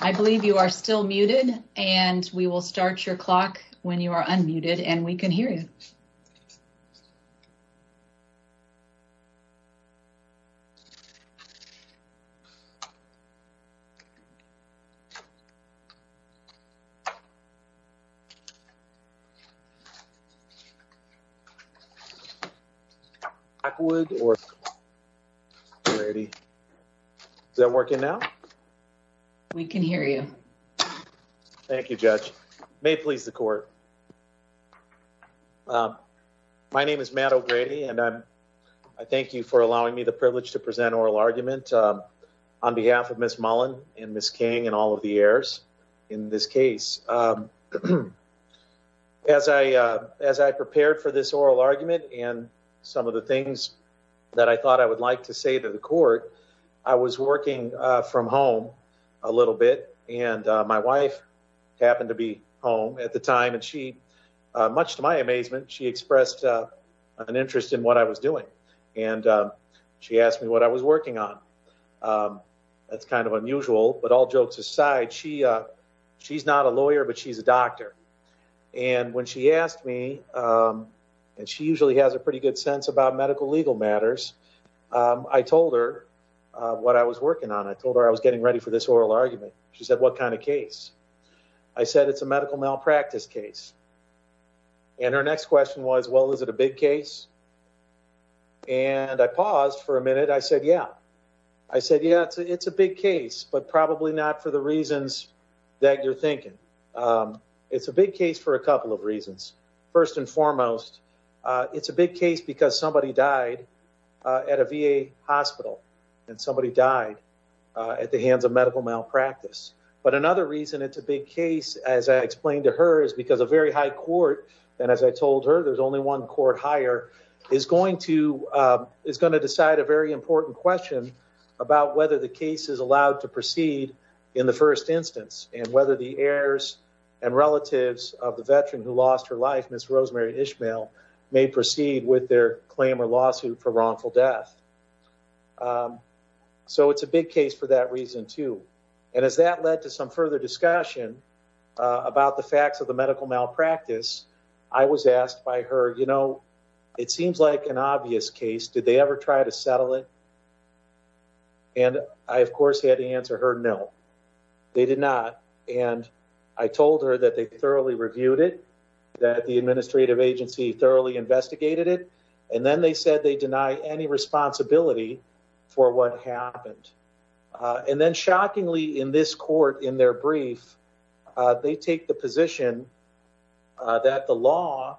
I believe you are still muted and we will start your clock when you are unmuted and we can hear you. Is that working now? We can hear you. Thank you judge. May it please the court. My name is Matt O'Grady and I thank you for allowing me the privilege to present oral argument on behalf of Ms. Mullen and Ms. King and all of the heirs in this case. As I prepared for this oral argument and some of the things that I thought I would like to say to I was working from home a little bit and my wife happened to be home at the time and she much to my amazement she expressed an interest in what I was doing and she asked me what I was working on. That's kind of unusual but all jokes aside she's not a lawyer but she's a doctor and when she asked me and she usually has a pretty good sense about medical legal matters I told her what I was working on. I told her I was getting ready for this oral argument. She said what kind of case? I said it's a medical malpractice case and her next question was well is it a big case and I paused for a minute I said yeah. I said yeah it's a big case but probably not for the reasons that you're thinking. It's a big case for a couple of reasons. First and foremost it's a big case because somebody died at a VA hospital and somebody died at the hands of medical malpractice but another reason it's a big case as I explained to her is because a very high court and as I told her there's only one court higher is going to decide a very important question about whether the case is allowed to proceed in the first instance and whether the heirs and relatives of the veteran who lost her life Ms. Rosemary Ishmael may proceed with their claim or lawsuit for wrongful death. So it's a big case for that reason too and as that led to some further discussion about the facts of the medical malpractice I was asked by her you know it seems like an obvious case did they ever try to settle it and I of course had to answer her no they did not and I told her that they thoroughly reviewed it that the administrative agency thoroughly investigated it and then they said they deny any responsibility for what happened and then shockingly in this court in their brief they take the position that the law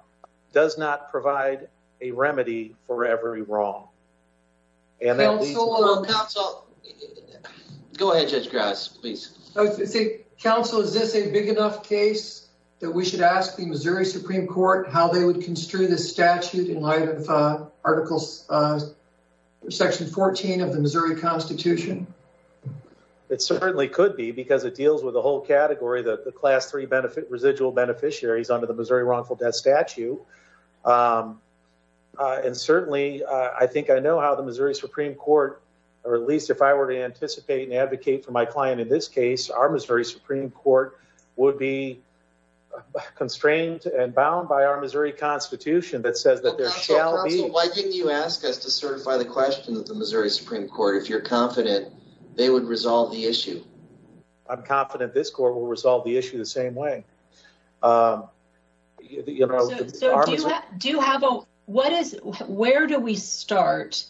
does not provide a remedy for every wrong. Go ahead Judge Grass please. Counsel is this a big enough case that we should ask the Missouri Supreme Court how they would construe this statute in light of articles section 14 of the Missouri Constitution? It certainly could be because it deals with the whole category that the class 3 residual beneficiaries under the Missouri wrongful death statute and certainly I think I know how the Missouri Supreme Court or at least if I were to anticipate and advocate for my client in this case our Missouri Supreme Court would be constrained and bound by our Missouri Constitution that says that there shall be. Counsel why didn't you ask us to certify the question that the Missouri Supreme Court if you're confident they would resolve the issue? I'm confident this court will resolve the issue the same way. Where do we start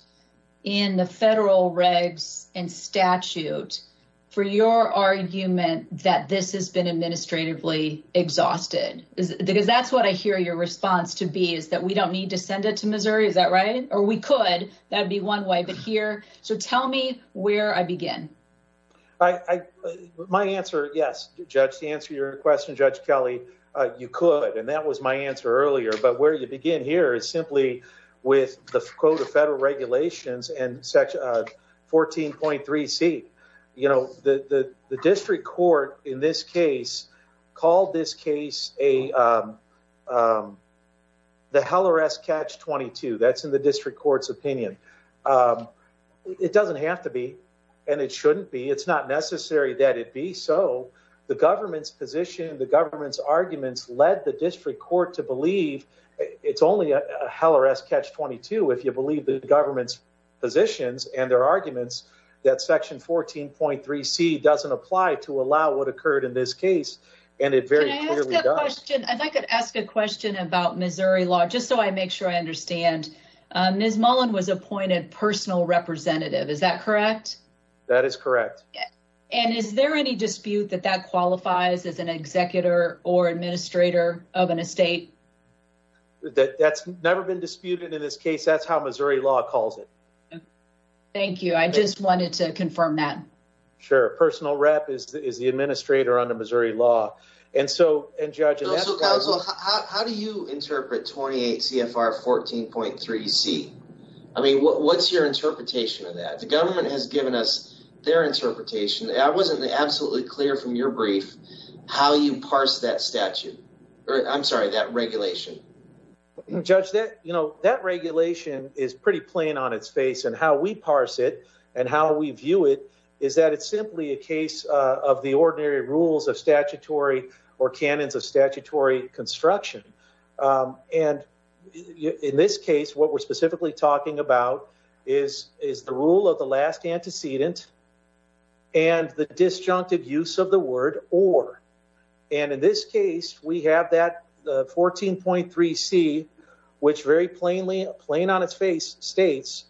in the federal regs and statute for your argument that this has been administratively exhausted because that's what I hear your response to be is that we don't need to send it to Missouri is that right or we could that'd be one way but here so tell me where I begin. My answer yes judge to answer your question Judge Kelly you could and that was my answer earlier but where you begin here is simply with the quote of federal regulations and section of 14.3c you know the the district court in this case called this case a the heller s catch 22 that's in the district court's opinion. It doesn't have to be and it shouldn't be it's not necessary that it be so the government's position the government's arguments led the district court to believe it's only a heller s catch 22 if you believe the government's positions and their arguments that section 14.3c doesn't apply to allow what occurred in this case and it very clearly does. I could ask a question about Missouri law just so I make sure I understand. Ms. Mullen was appointed personal representative is that correct? That is correct and is there any dispute that that qualifies as an executor or administrator of an estate? That's never been disputed in this case that's how Missouri law calls it. Thank you I just wanted to confirm that. Sure personal rep is the administrator under Missouri law and so and judge how do you interpret 28 cfr 14.3c I mean what's your interpretation of that the government has given us their interpretation I wasn't absolutely clear from your brief how you parse that statute or I'm sorry that regulation. Judge that you know that regulation is pretty plain on its face and how we parse it and how we view it is that it's simply a case of the ordinary rules of statutory or canons of statutory construction and in this case what we're specifically talking about is the rule of the last antecedent and the disjunctive use of the word or and in this case we have that 14.3c which very plainly plain on its face states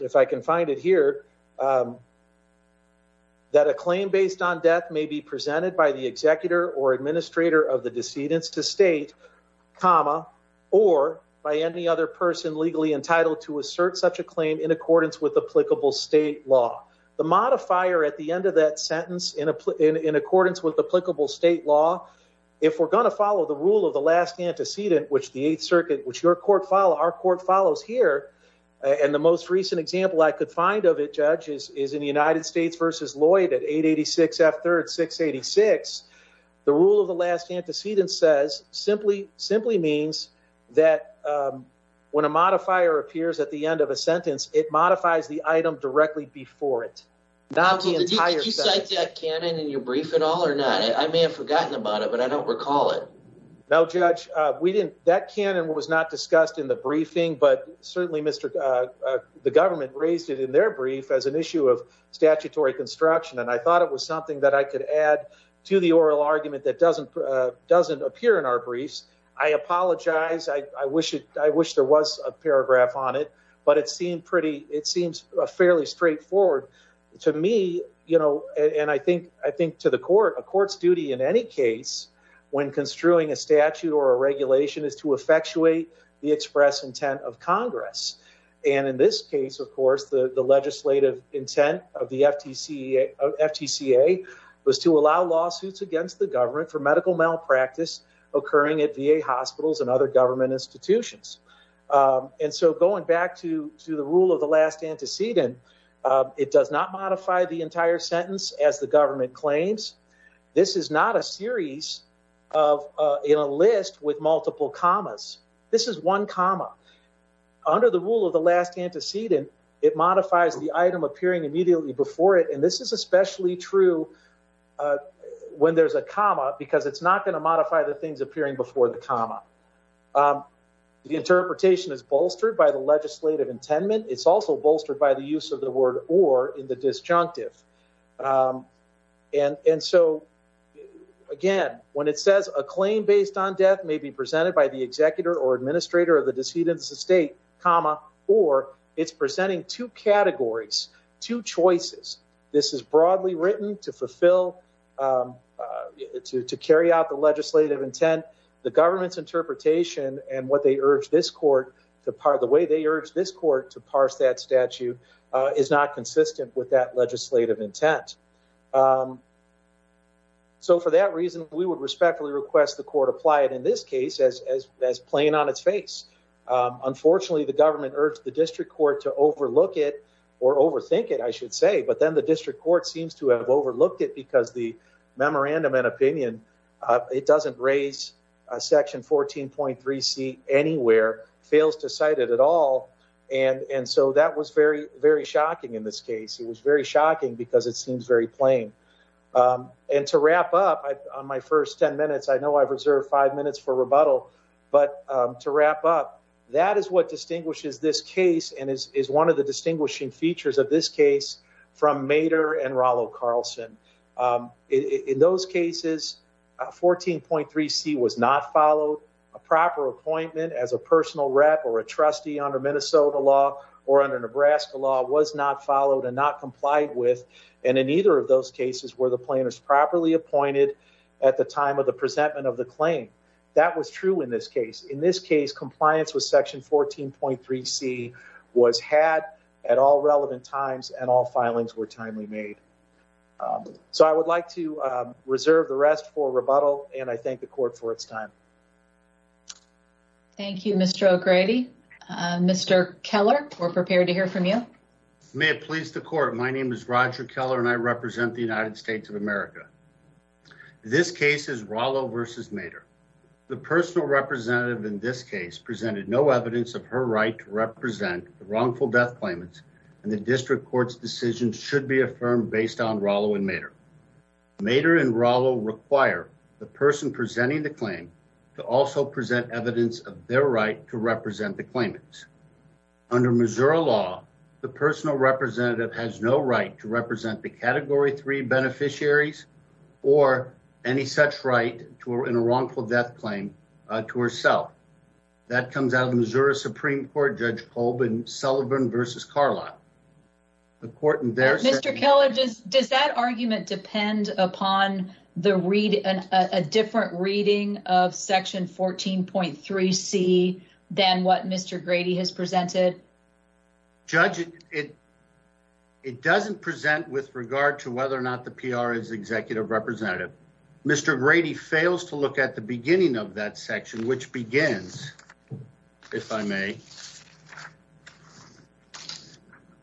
if I can find it here that a claim based on death may be presented by the executor or administrator of the decedents to state comma or by any other person legally entitled to assert such a claim in accordance with applicable state law. The modifier at the end of that sentence in accordance with applicable state law if we're going to follow the rule of the last antecedent which the eighth could find of it judge is in the United States versus Lloyd at 886 F 3rd 686 the rule of the last antecedent says simply simply means that when a modifier appears at the end of a sentence it modifies the item directly before it. Now did you cite that canon in your brief at all or not I may have forgotten about it but I don't recall it. No judge we didn't that canon was not discussed in the briefing but certainly Mr. the government raised it in their brief as an issue of statutory construction and I thought it was something that I could add to the oral argument that doesn't doesn't appear in our briefs. I apologize I wish it I wish there was a paragraph on it but it seemed pretty it seems fairly straightforward to me you know and I think I think to the court a court's duty in any case when construing a statute or a regulation is to effectuate the express intent of Congress and in this case of course the the legislative intent of the FTC FTCA was to allow lawsuits against the government for medical malpractice occurring at VA hospitals and other government institutions and so going back to to the rule of the last antecedent it does not modify the entire sentence as the government claims this is not a this is one comma. Under the rule of the last antecedent it modifies the item appearing immediately before it and this is especially true when there's a comma because it's not going to modify the things appearing before the comma. The interpretation is bolstered by the legislative intendment it's also bolstered by the use of the word or in the disjunctive and and so again when it says a claim based on death may be presented by the executor or administrator of the decedent's estate comma or it's presenting two categories two choices this is broadly written to fulfill to to carry out the legislative intent the government's interpretation and what they urge this court to part the way they urge this court to parse that statute is not consistent with that legislative intent. So for that reason we would respectfully request the court apply it in this case as as plain on its face. Unfortunately the government urged the district court to overlook it or overthink it I should say but then the district court seems to have overlooked it because the memorandum and opinion it doesn't raise a section 14.3c anywhere fails to cite it all and and so that was very very shocking in this case it was very shocking because it seems very plain. And to wrap up on my first 10 minutes I know I've reserved five minutes for rebuttal but to wrap up that is what distinguishes this case and is is one of the distinguishing features of this case from Mader and Rollo Carlson. In those cases 14.3c was not followed a proper appointment as a personal rep or a trustee under Minnesota law or under Nebraska law was not followed and not complied with and in either of those cases were the planners properly appointed at the time of the presentment of the claim. That was true in this case in this case compliance with section 14.3c was had at all relevant times and all filings were timely made. So I would like to reserve the rest for rebuttal and I thank the court for its time. Thank you Mr. O'Grady. Mr. Keller we're prepared to hear from you. May it please the court my name is Roger Keller and I represent the United States of America. This case is Rollo versus Mader. The personal representative in this case presented no evidence of her right to represent the wrongful death claimants and the district court's decision should be affirmed based on Rollo and Mader. Mader and Rollo require the person presenting the claim to also present evidence of their right to represent the claimants. Under Missouri law the personal representative has no right to represent the category three beneficiaries or any such right to in a wrongful death claim to herself. That comes out of Missouri Supreme Court Judge Kolb and Sullivan versus Carlisle. Mr. Keller does that argument depend upon a different reading of section 14.3c than what Mr. Grady has presented? Judge it doesn't present with regard to whether or not the PR is executive representative. Mr. Grady fails to look at the beginning of that section which begins if I may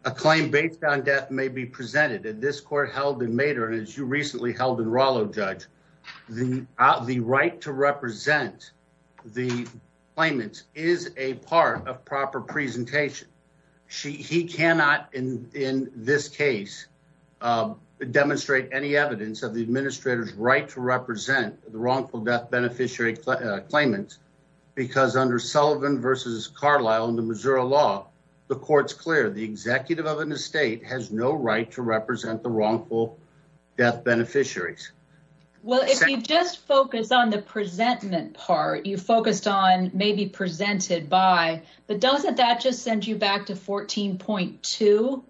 a claim based on death may be presented and this court held in Mader and as you recently held in Rollo judge the the right to represent the claimants is a part of proper presentation. She he cannot in in this case demonstrate any evidence of the administrator's right to represent the wrongful death beneficiary claimant because under Sullivan versus Carlisle in the Missouri law the court's clear the executive of an estate has no right to represent the wrongful death beneficiaries. Well if you just focus on the presentment part you focused on maybe presented by but doesn't that just send you back to 14.2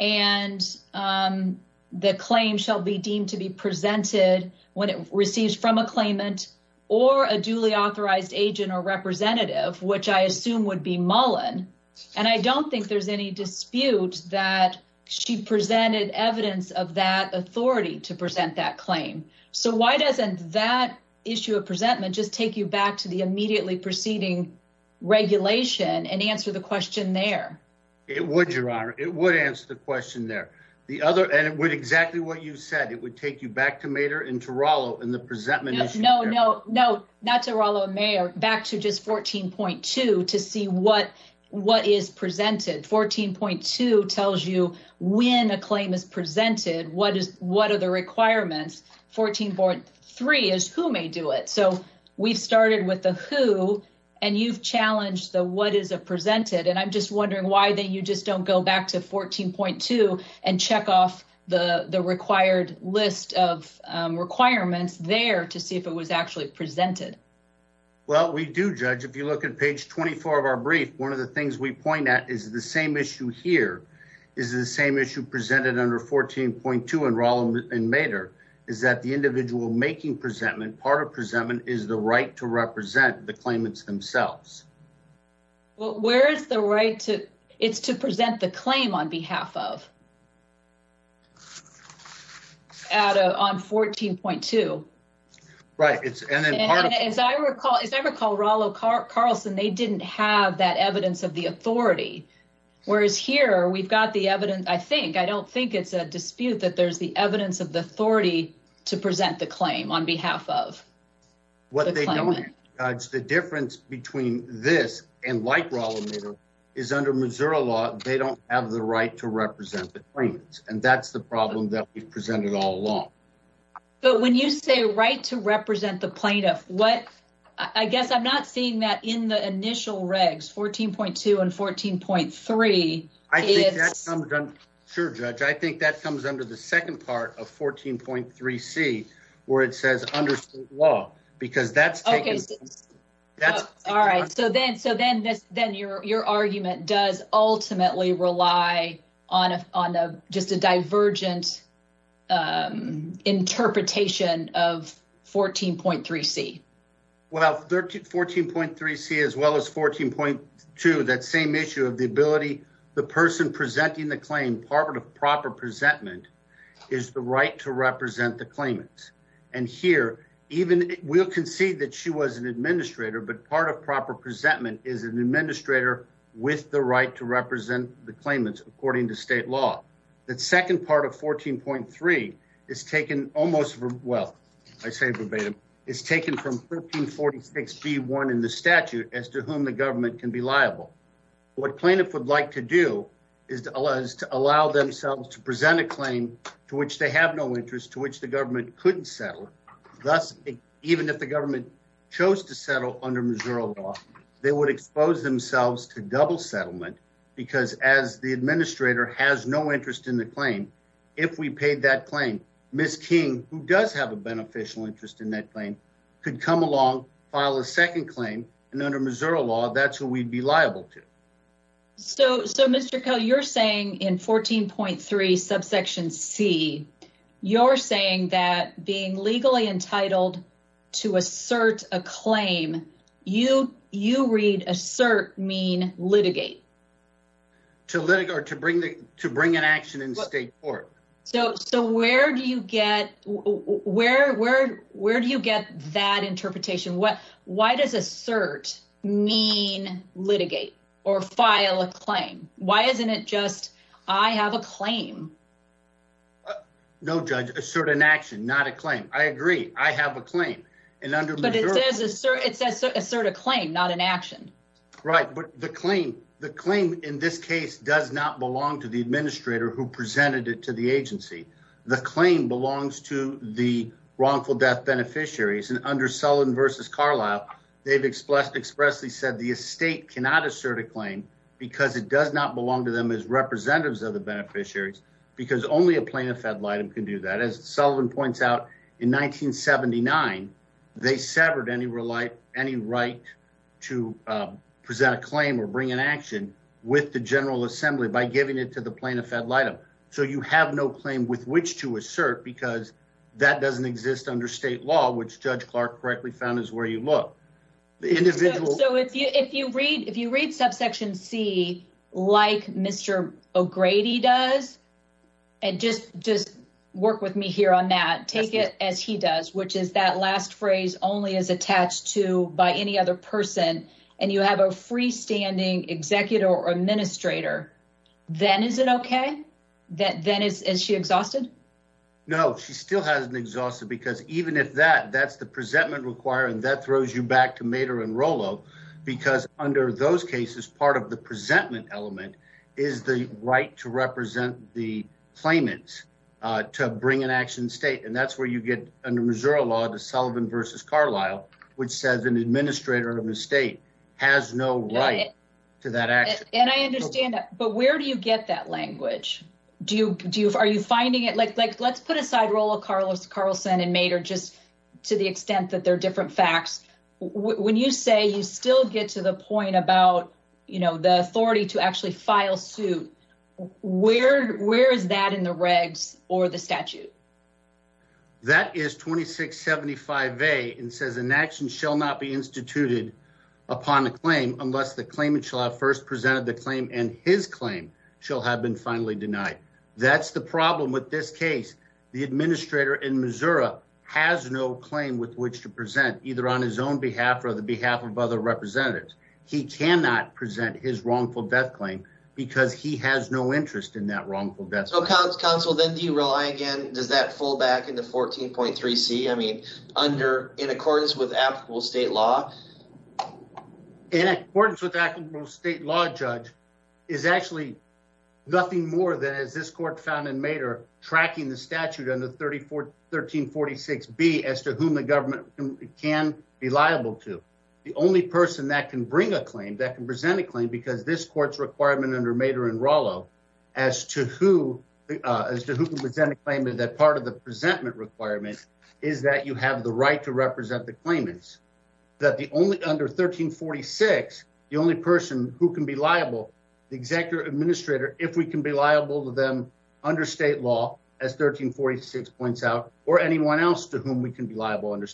and the claim shall be deemed to be presented when it receives from a claimant or a duly authorized agent or representative which I assume would be Mullen and I don't think there's any dispute that she presented evidence of that authority to present that claim. So why doesn't that issue of presentment just take you back to the immediately preceding regulation and answer the question there? It would your honor it would answer the question there the other and it would exactly what you said it would take you back to Mader and to Rollo in the presentment. No no no not to Rollo and Mayer back to just 14.2 to see what what is presented 14.2 tells you when a claim is presented what is what are the requirements 14.3 is who may do it so we've started with the who and you've challenged the what is a presented and I'm just wondering why that you just don't go back to 14.2 and check off the the required list of requirements there to see if it was actually presented. Well we do judge if you look at page 24 of our brief one of the things we point at is the same issue here is the same issue presented under 14.2 in Rollo and Mader is that the individual making presentment part of presentment is the right to represent the claimants themselves well where is the right to it's to present the claim on behalf of at a on 14.2 right it's and as I recall as I recall Rollo Carlson they didn't have that evidence of the authority whereas here we've got the evidence I think I don't think it's a dispute that there's the evidence of the authority to present the claim on behalf of what they don't judge the difference between this and like Rollo is under Missouri law they don't have the right to represent the claimants and that's the problem that we've presented all along but when you say right to represent the plaintiff what I guess I'm not seeing that in the initial regs 14.2 and 14.3 is sure judge I think that comes under the second part of 14.3c where it says under state law because that's okay that's all right so then so then this then your your argument does ultimately rely on a on a just a divergent um interpretation of 14.3c well 13 14.3c as well as 14.2 that same issue of the ability the person presenting the claim part of proper presentment is the right to represent the claimants and here even we'll concede that she was an administrator but part of proper presentment is an administrator with the right to represent the claimants according to state law the second part of 14.3 is taken almost well I say verbatim is taken from 1346b1 in the statute as to whom the government can be liable what plaintiff would like to do is to allow themselves to present a claim to which they have no interest to which the government couldn't settle thus even if the government chose to settle under Missouri law they would expose themselves to double settlement because as the administrator has no interest in the claim if we paid that claim miss king who does have a beneficial interest in that claim could come along file a second claim and under Missouri law that's who we'd be liable to so so mr ko you're saying in 14.3 subsection c you're saying that being legally entitled to assert a claim you you read assert mean litigate to litigate or to bring the to bring an action in state court so so where do you get where where where do you get that interpretation what why does assert mean litigate or file a claim why isn't it just I have a claim no judge assert an action not a claim I agree I have a claim and under but it says assert it says assert a claim not an action right but the claim the claim in this case does not belong to the administrator who presented it to the agency the claim belongs to the wrongful death beneficiaries and under sullen versus carlisle they've expressed expressly said the estate cannot assert a claim because it does not belong to them as representatives of the beneficiaries because only a plaintiff had light and can do that as sullen points out in 1979 they severed any real life any right to present a claim or bring an action with the general assembly by giving it to the plaintiff at light of so you have no claim with which to assert because that doesn't exist under state law which judge clark correctly found is where you look the individual so if you if you read if you read subsection c like mr o'grady does and just just work with me here on that take it as he does which is that last phrase only is attached to by any other person and you have a is it okay that then is as she exhausted no she still hasn't exhausted because even if that that's the presentment requiring that throws you back to mater and rollo because under those cases part of the presentment element is the right to represent the claimants uh to bring an action state and that's where you get under missouri law to sullivan versus carlisle which says an administrator of the has no right to that action and i understand that but where do you get that language do you do are you finding it like like let's put aside rollo carlos carlson and mater just to the extent that they're different facts when you say you still get to the point about you know the authority to actually file suit where where is that in the regs or the statute that is 26 75 a and says an administrative action shall not be instituted upon a claim unless the claimant shall have first presented the claim and his claim shall have been finally denied that's the problem with this case the administrator in missouri has no claim with which to present either on his own behalf or the behalf of other representatives he cannot present his wrongful death claim because he has no interest in that wrongful death counsel then do you rely again does that fall back into 14.3 c i mean under in accordance with applicable state law in accordance with actual state law judge is actually nothing more than as this court found in mater tracking the statute under 34 1346 b as to whom the government can be liable to the only person that can bring a claim that can present a claim because this court's requirement under mater and rollo as to who uh as to who can present a claim that part of the presentment requirement is that you have the right to represent the claimants that the only under 1346 the only person who can be liable the executive administrator if we can be liable to them under state law as 1346 points out or anyone else to whom we can be liable under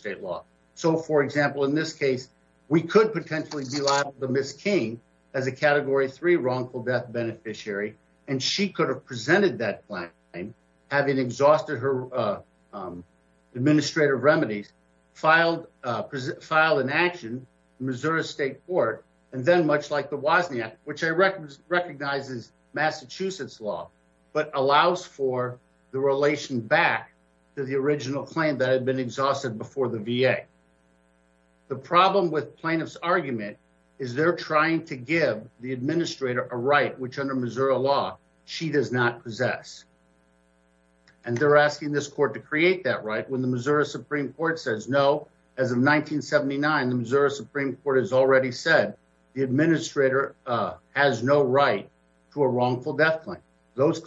so for example in this case we could potentially be liable to miss king as a category three wrongful death beneficiary and she could have presented that plan having exhausted her uh um administrative remedies filed uh filed in action missouri state court and then much like the wasney act which i recognizes massachusetts law but allows for the relation back to the original claim that had been exhausted before the va the problem with plaintiff's argument is they're trying to give the administrator a right which under missouri law she does not possess and they're asking this court to create that right when the missouri supreme court says no as of 1979 the missouri supreme court has already said the administrator uh has no right to a wrongful death claim those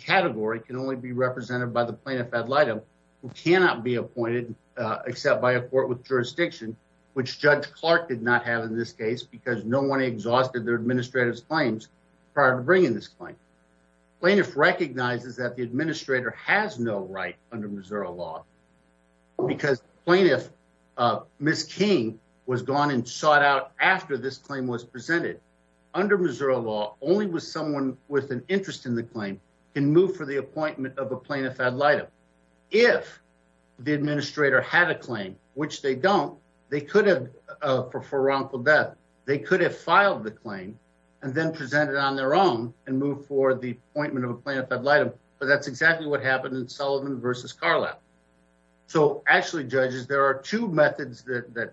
category can only be represented by the plaintiff ad litem who cannot be appointed uh except by a court with jurisdiction which judge clark did not have in this case because no one exhausted their administrative claims prior to bringing this claim plaintiff recognizes that the administrator has no right under missouri law because plaintiff uh miss king was gone and sought out after this can move for the appointment of a plaintiff ad litem if the administrator had a claim which they don't they could have uh for wrongful death they could have filed the claim and then presented on their own and moved for the appointment of a plaintiff ad litem but that's exactly what happened in sullivan versus carlap so actually judges there are two methods that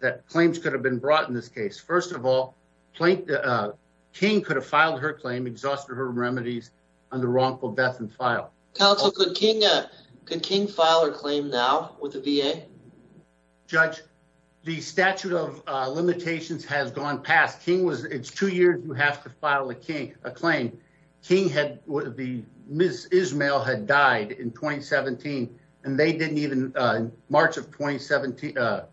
that claims could have been brought in this case first of all plank uh king could have filed her claim exhausted her remedies on the wrongful death and file counsel could king uh could king file her claim now with the va judge the statute of uh limitations has gone past king was it's two years you have to file a king a claim king had the miss ismael had died in 2017 and they didn't even uh in march of 2017 uh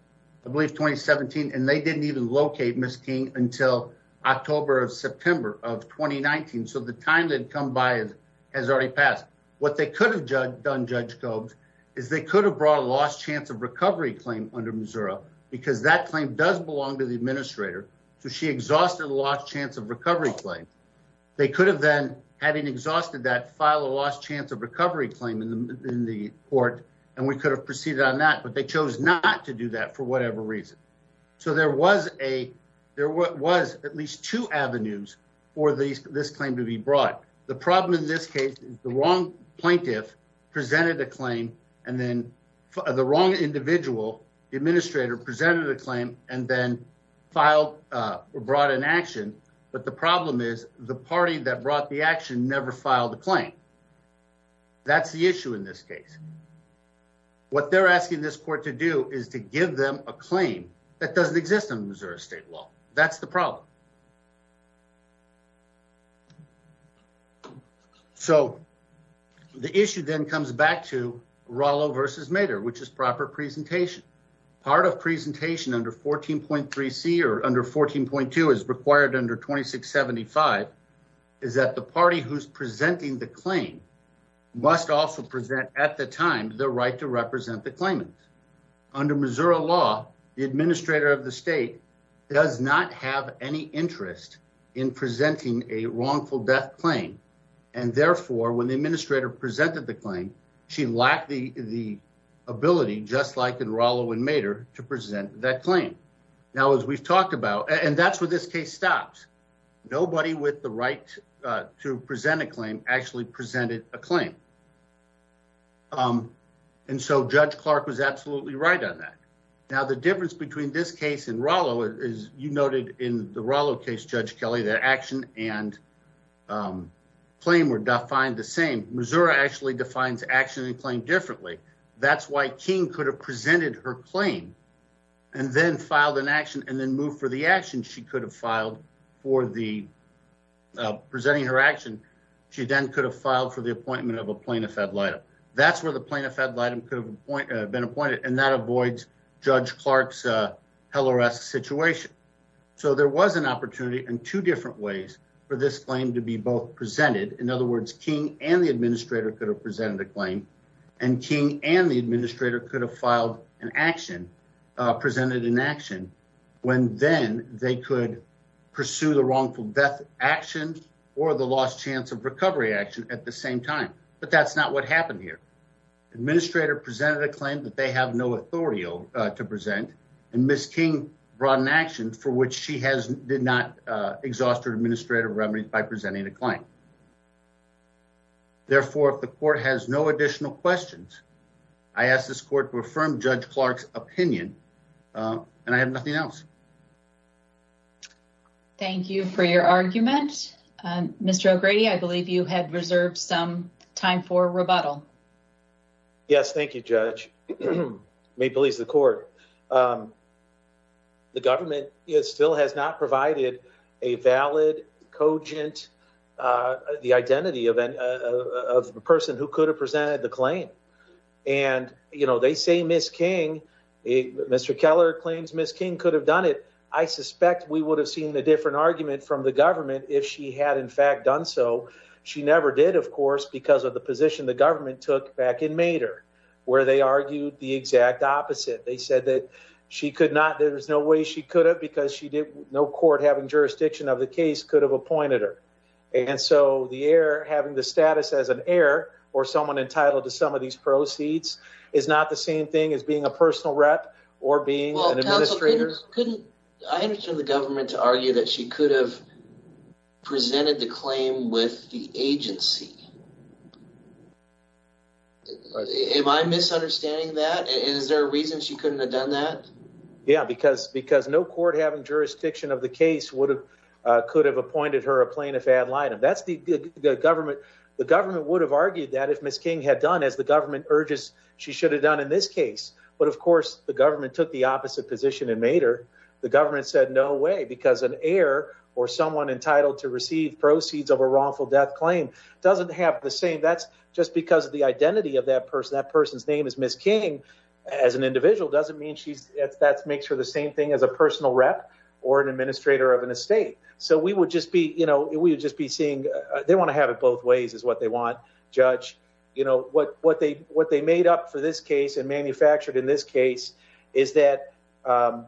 i believe 2017 and they didn't even locate miss king until october of september of 2019 so the time that come by has already passed what they could have done judge cobbs is they could have brought a lost chance of recovery claim under missouri because that claim does belong to the administrator so she exhausted the lost chance of recovery claim they could have then having exhausted that file a lost chance of recovery claim in the in the court and we could have proceeded on that but they chose not to do that for whatever reason so there was a there was at least two avenues for these this claim to be brought the problem in this case is the wrong plaintiff presented a claim and then the wrong individual the administrator presented a claim and then filed uh or brought in action but the problem is the party that brought the action never filed a claim that's the issue in this case what they're asking this court to do is to give them a claim that doesn't exist in missouri state law that's the problem so the issue then comes back to rollo versus mater which is proper presentation part of presentation under 14.3 c or under 14.2 is required under 2675 is that the party who's presenting the claim must also present at the time the right to represent the claimant under missouri law the administrator of the state does not have any interest in presenting a wrongful death claim and therefore when the administrator presented the claim she lacked the the ability just like in rollo and mater to present that claim now as we've talked about and that's where this case stops nobody with the right to present a claim actually presented a now the difference between this case and rollo is you noted in the rollo case judge kelly that action and um claim were defined the same missouri actually defines action and claim differently that's why king could have presented her claim and then filed an action and then moved for the action she could have filed for the uh presenting her action she then could have filed for the appointment of a plaintiff ad litem that's where the plaintiff ad litem could have been appointed and that avoids judge clark's uh heller s situation so there was an opportunity in two different ways for this claim to be both presented in other words king and the administrator could have presented a claim and king and the administrator could have filed an action uh presented in action when then they could pursue the wrongful death action or the lost chance of recovery action at the same time but that's not what happened here administrator presented a claim that they have no authorial uh to present and miss king brought an action for which she has did not uh exhaust her administrative remedies by presenting a claim therefore if the court has no additional questions i ask this court to affirm judge clark's opinion uh and i have nothing else thank you for your argument um mr o'grady i believe you had reserved some time for rebuttal um yes thank you judge may please the court um the government is still has not provided a valid cogent uh the identity of an of a person who could have presented the claim and you know they say miss king a mr keller claims miss king could have done it i suspect we would have seen a different argument from the government if she had in fact done so she never did of course because of the position the government took back in mater where they argued the exact opposite they said that she could not there's no way she could have because she did no court having jurisdiction of the case could have appointed her and so the air having the status as an heir or someone entitled to some of these proceeds is not the same thing as being a personal rep or being an administrator couldn't i understand the government to argue that she could have presented the claim with the agency am i misunderstanding that is there a reason she couldn't have done that yeah because because no court having jurisdiction of the case would have uh could have appointed her a plaintiff ad litem that's the the government the government would have argued that if miss king had done as the government urges she should have done in this case but of course the government took the opposite position in mater the government said no way because an heir or someone entitled to receive proceeds of a wrongful death claim doesn't have the same that's just because of the identity of that person that person's name is miss king as an individual doesn't mean she's that makes her the same thing as a personal rep or an administrator of an estate so we would just be you know we would just be seeing they want to have it both ways is what they want judge you know what they what they made up for this case and manufactured in this case is that um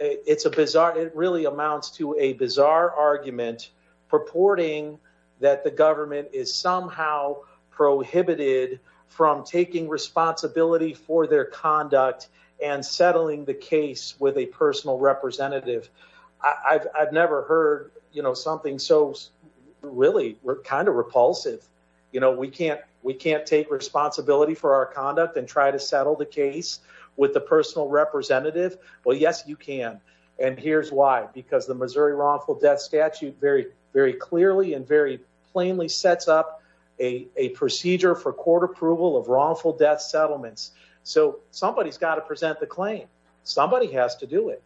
it's a bizarre it really amounts to a bizarre argument purporting that the government is somehow prohibited from taking responsibility for their conduct and settling the case with a personal representative i've i've never heard you know something so really we're kind of repulsive you know we can't we can't take responsibility for our conduct and try to settle the case with the personal representative well yes you can and here's why because the missouri wrongful death statute very very clearly and very plainly sets up a a procedure for court approval of wrongful death settlements so somebody's got to present the claim somebody has to do it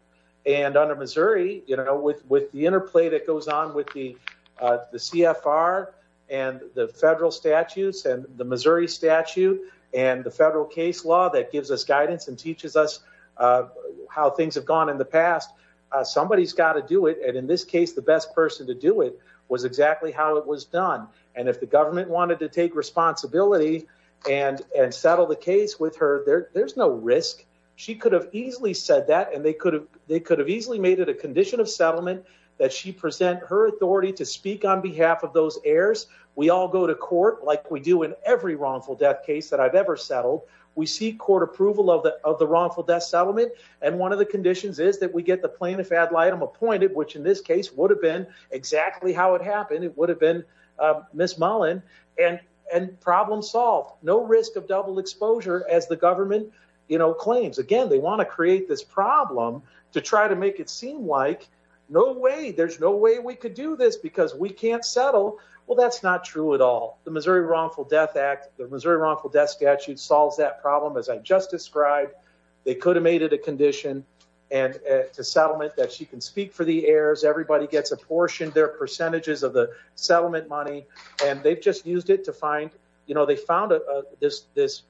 and under missouri you know with with the interplay that goes on with the uh the cfr and the federal statutes and the missouri statute and the federal case law that gives us guidance and teaches us uh how things have gone in the past uh somebody's got to do it and in this case the best person to do it was exactly how it was done and if the government wanted to take responsibility and and settle the case with her there there's no risk she could have easily said that and they they could have easily made it a condition of settlement that she present her authority to speak on behalf of those heirs we all go to court like we do in every wrongful death case that i've ever settled we seek court approval of the of the wrongful death settlement and one of the conditions is that we get the plaintiff ad litem appointed which in this case would have been exactly how it happened it would have been uh miss mullen and and problem solved no risk of double exposure as you know claims again they want to create this problem to try to make it seem like no way there's no way we could do this because we can't settle well that's not true at all the missouri wrongful death act the missouri wrongful death statute solves that problem as i just described they could have made it a condition and to settlement that she can speak for the heirs everybody gets apportioned their percentages of the settlement money and they've just used it to find you know they found this this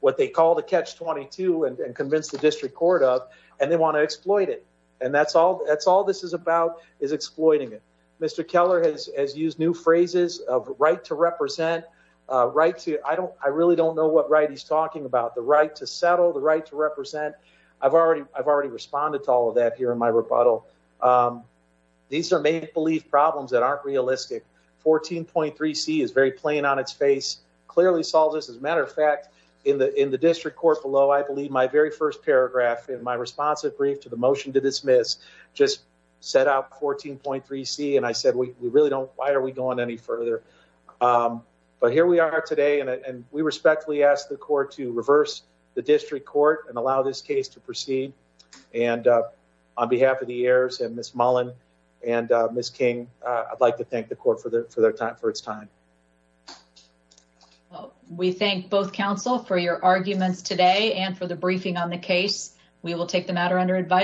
what they call the catch-22 and convince the district court of and they want to exploit it and that's all that's all this is about is exploiting it mr keller has has used new phrases of right to represent uh right to i don't i really don't know what right he's talking about the right to settle the right to represent i've already i've already responded to all of that here in my rebuttal um these are make-believe problems that aren't realistic 14.3 c is very plain on its face clearly solves this as a matter of fact in the in the district court below i believe my very first paragraph in my responsive brief to the motion to dismiss just set out 14.3 c and i said we really don't why are we going any further um but here we are today and we respectfully ask the court to reverse the district court and allow this case to proceed and uh on behalf of miss mullin and uh miss king i'd like to thank the court for their time for its time well we thank both council for your arguments today and for the briefing on the case we will take the matter under advice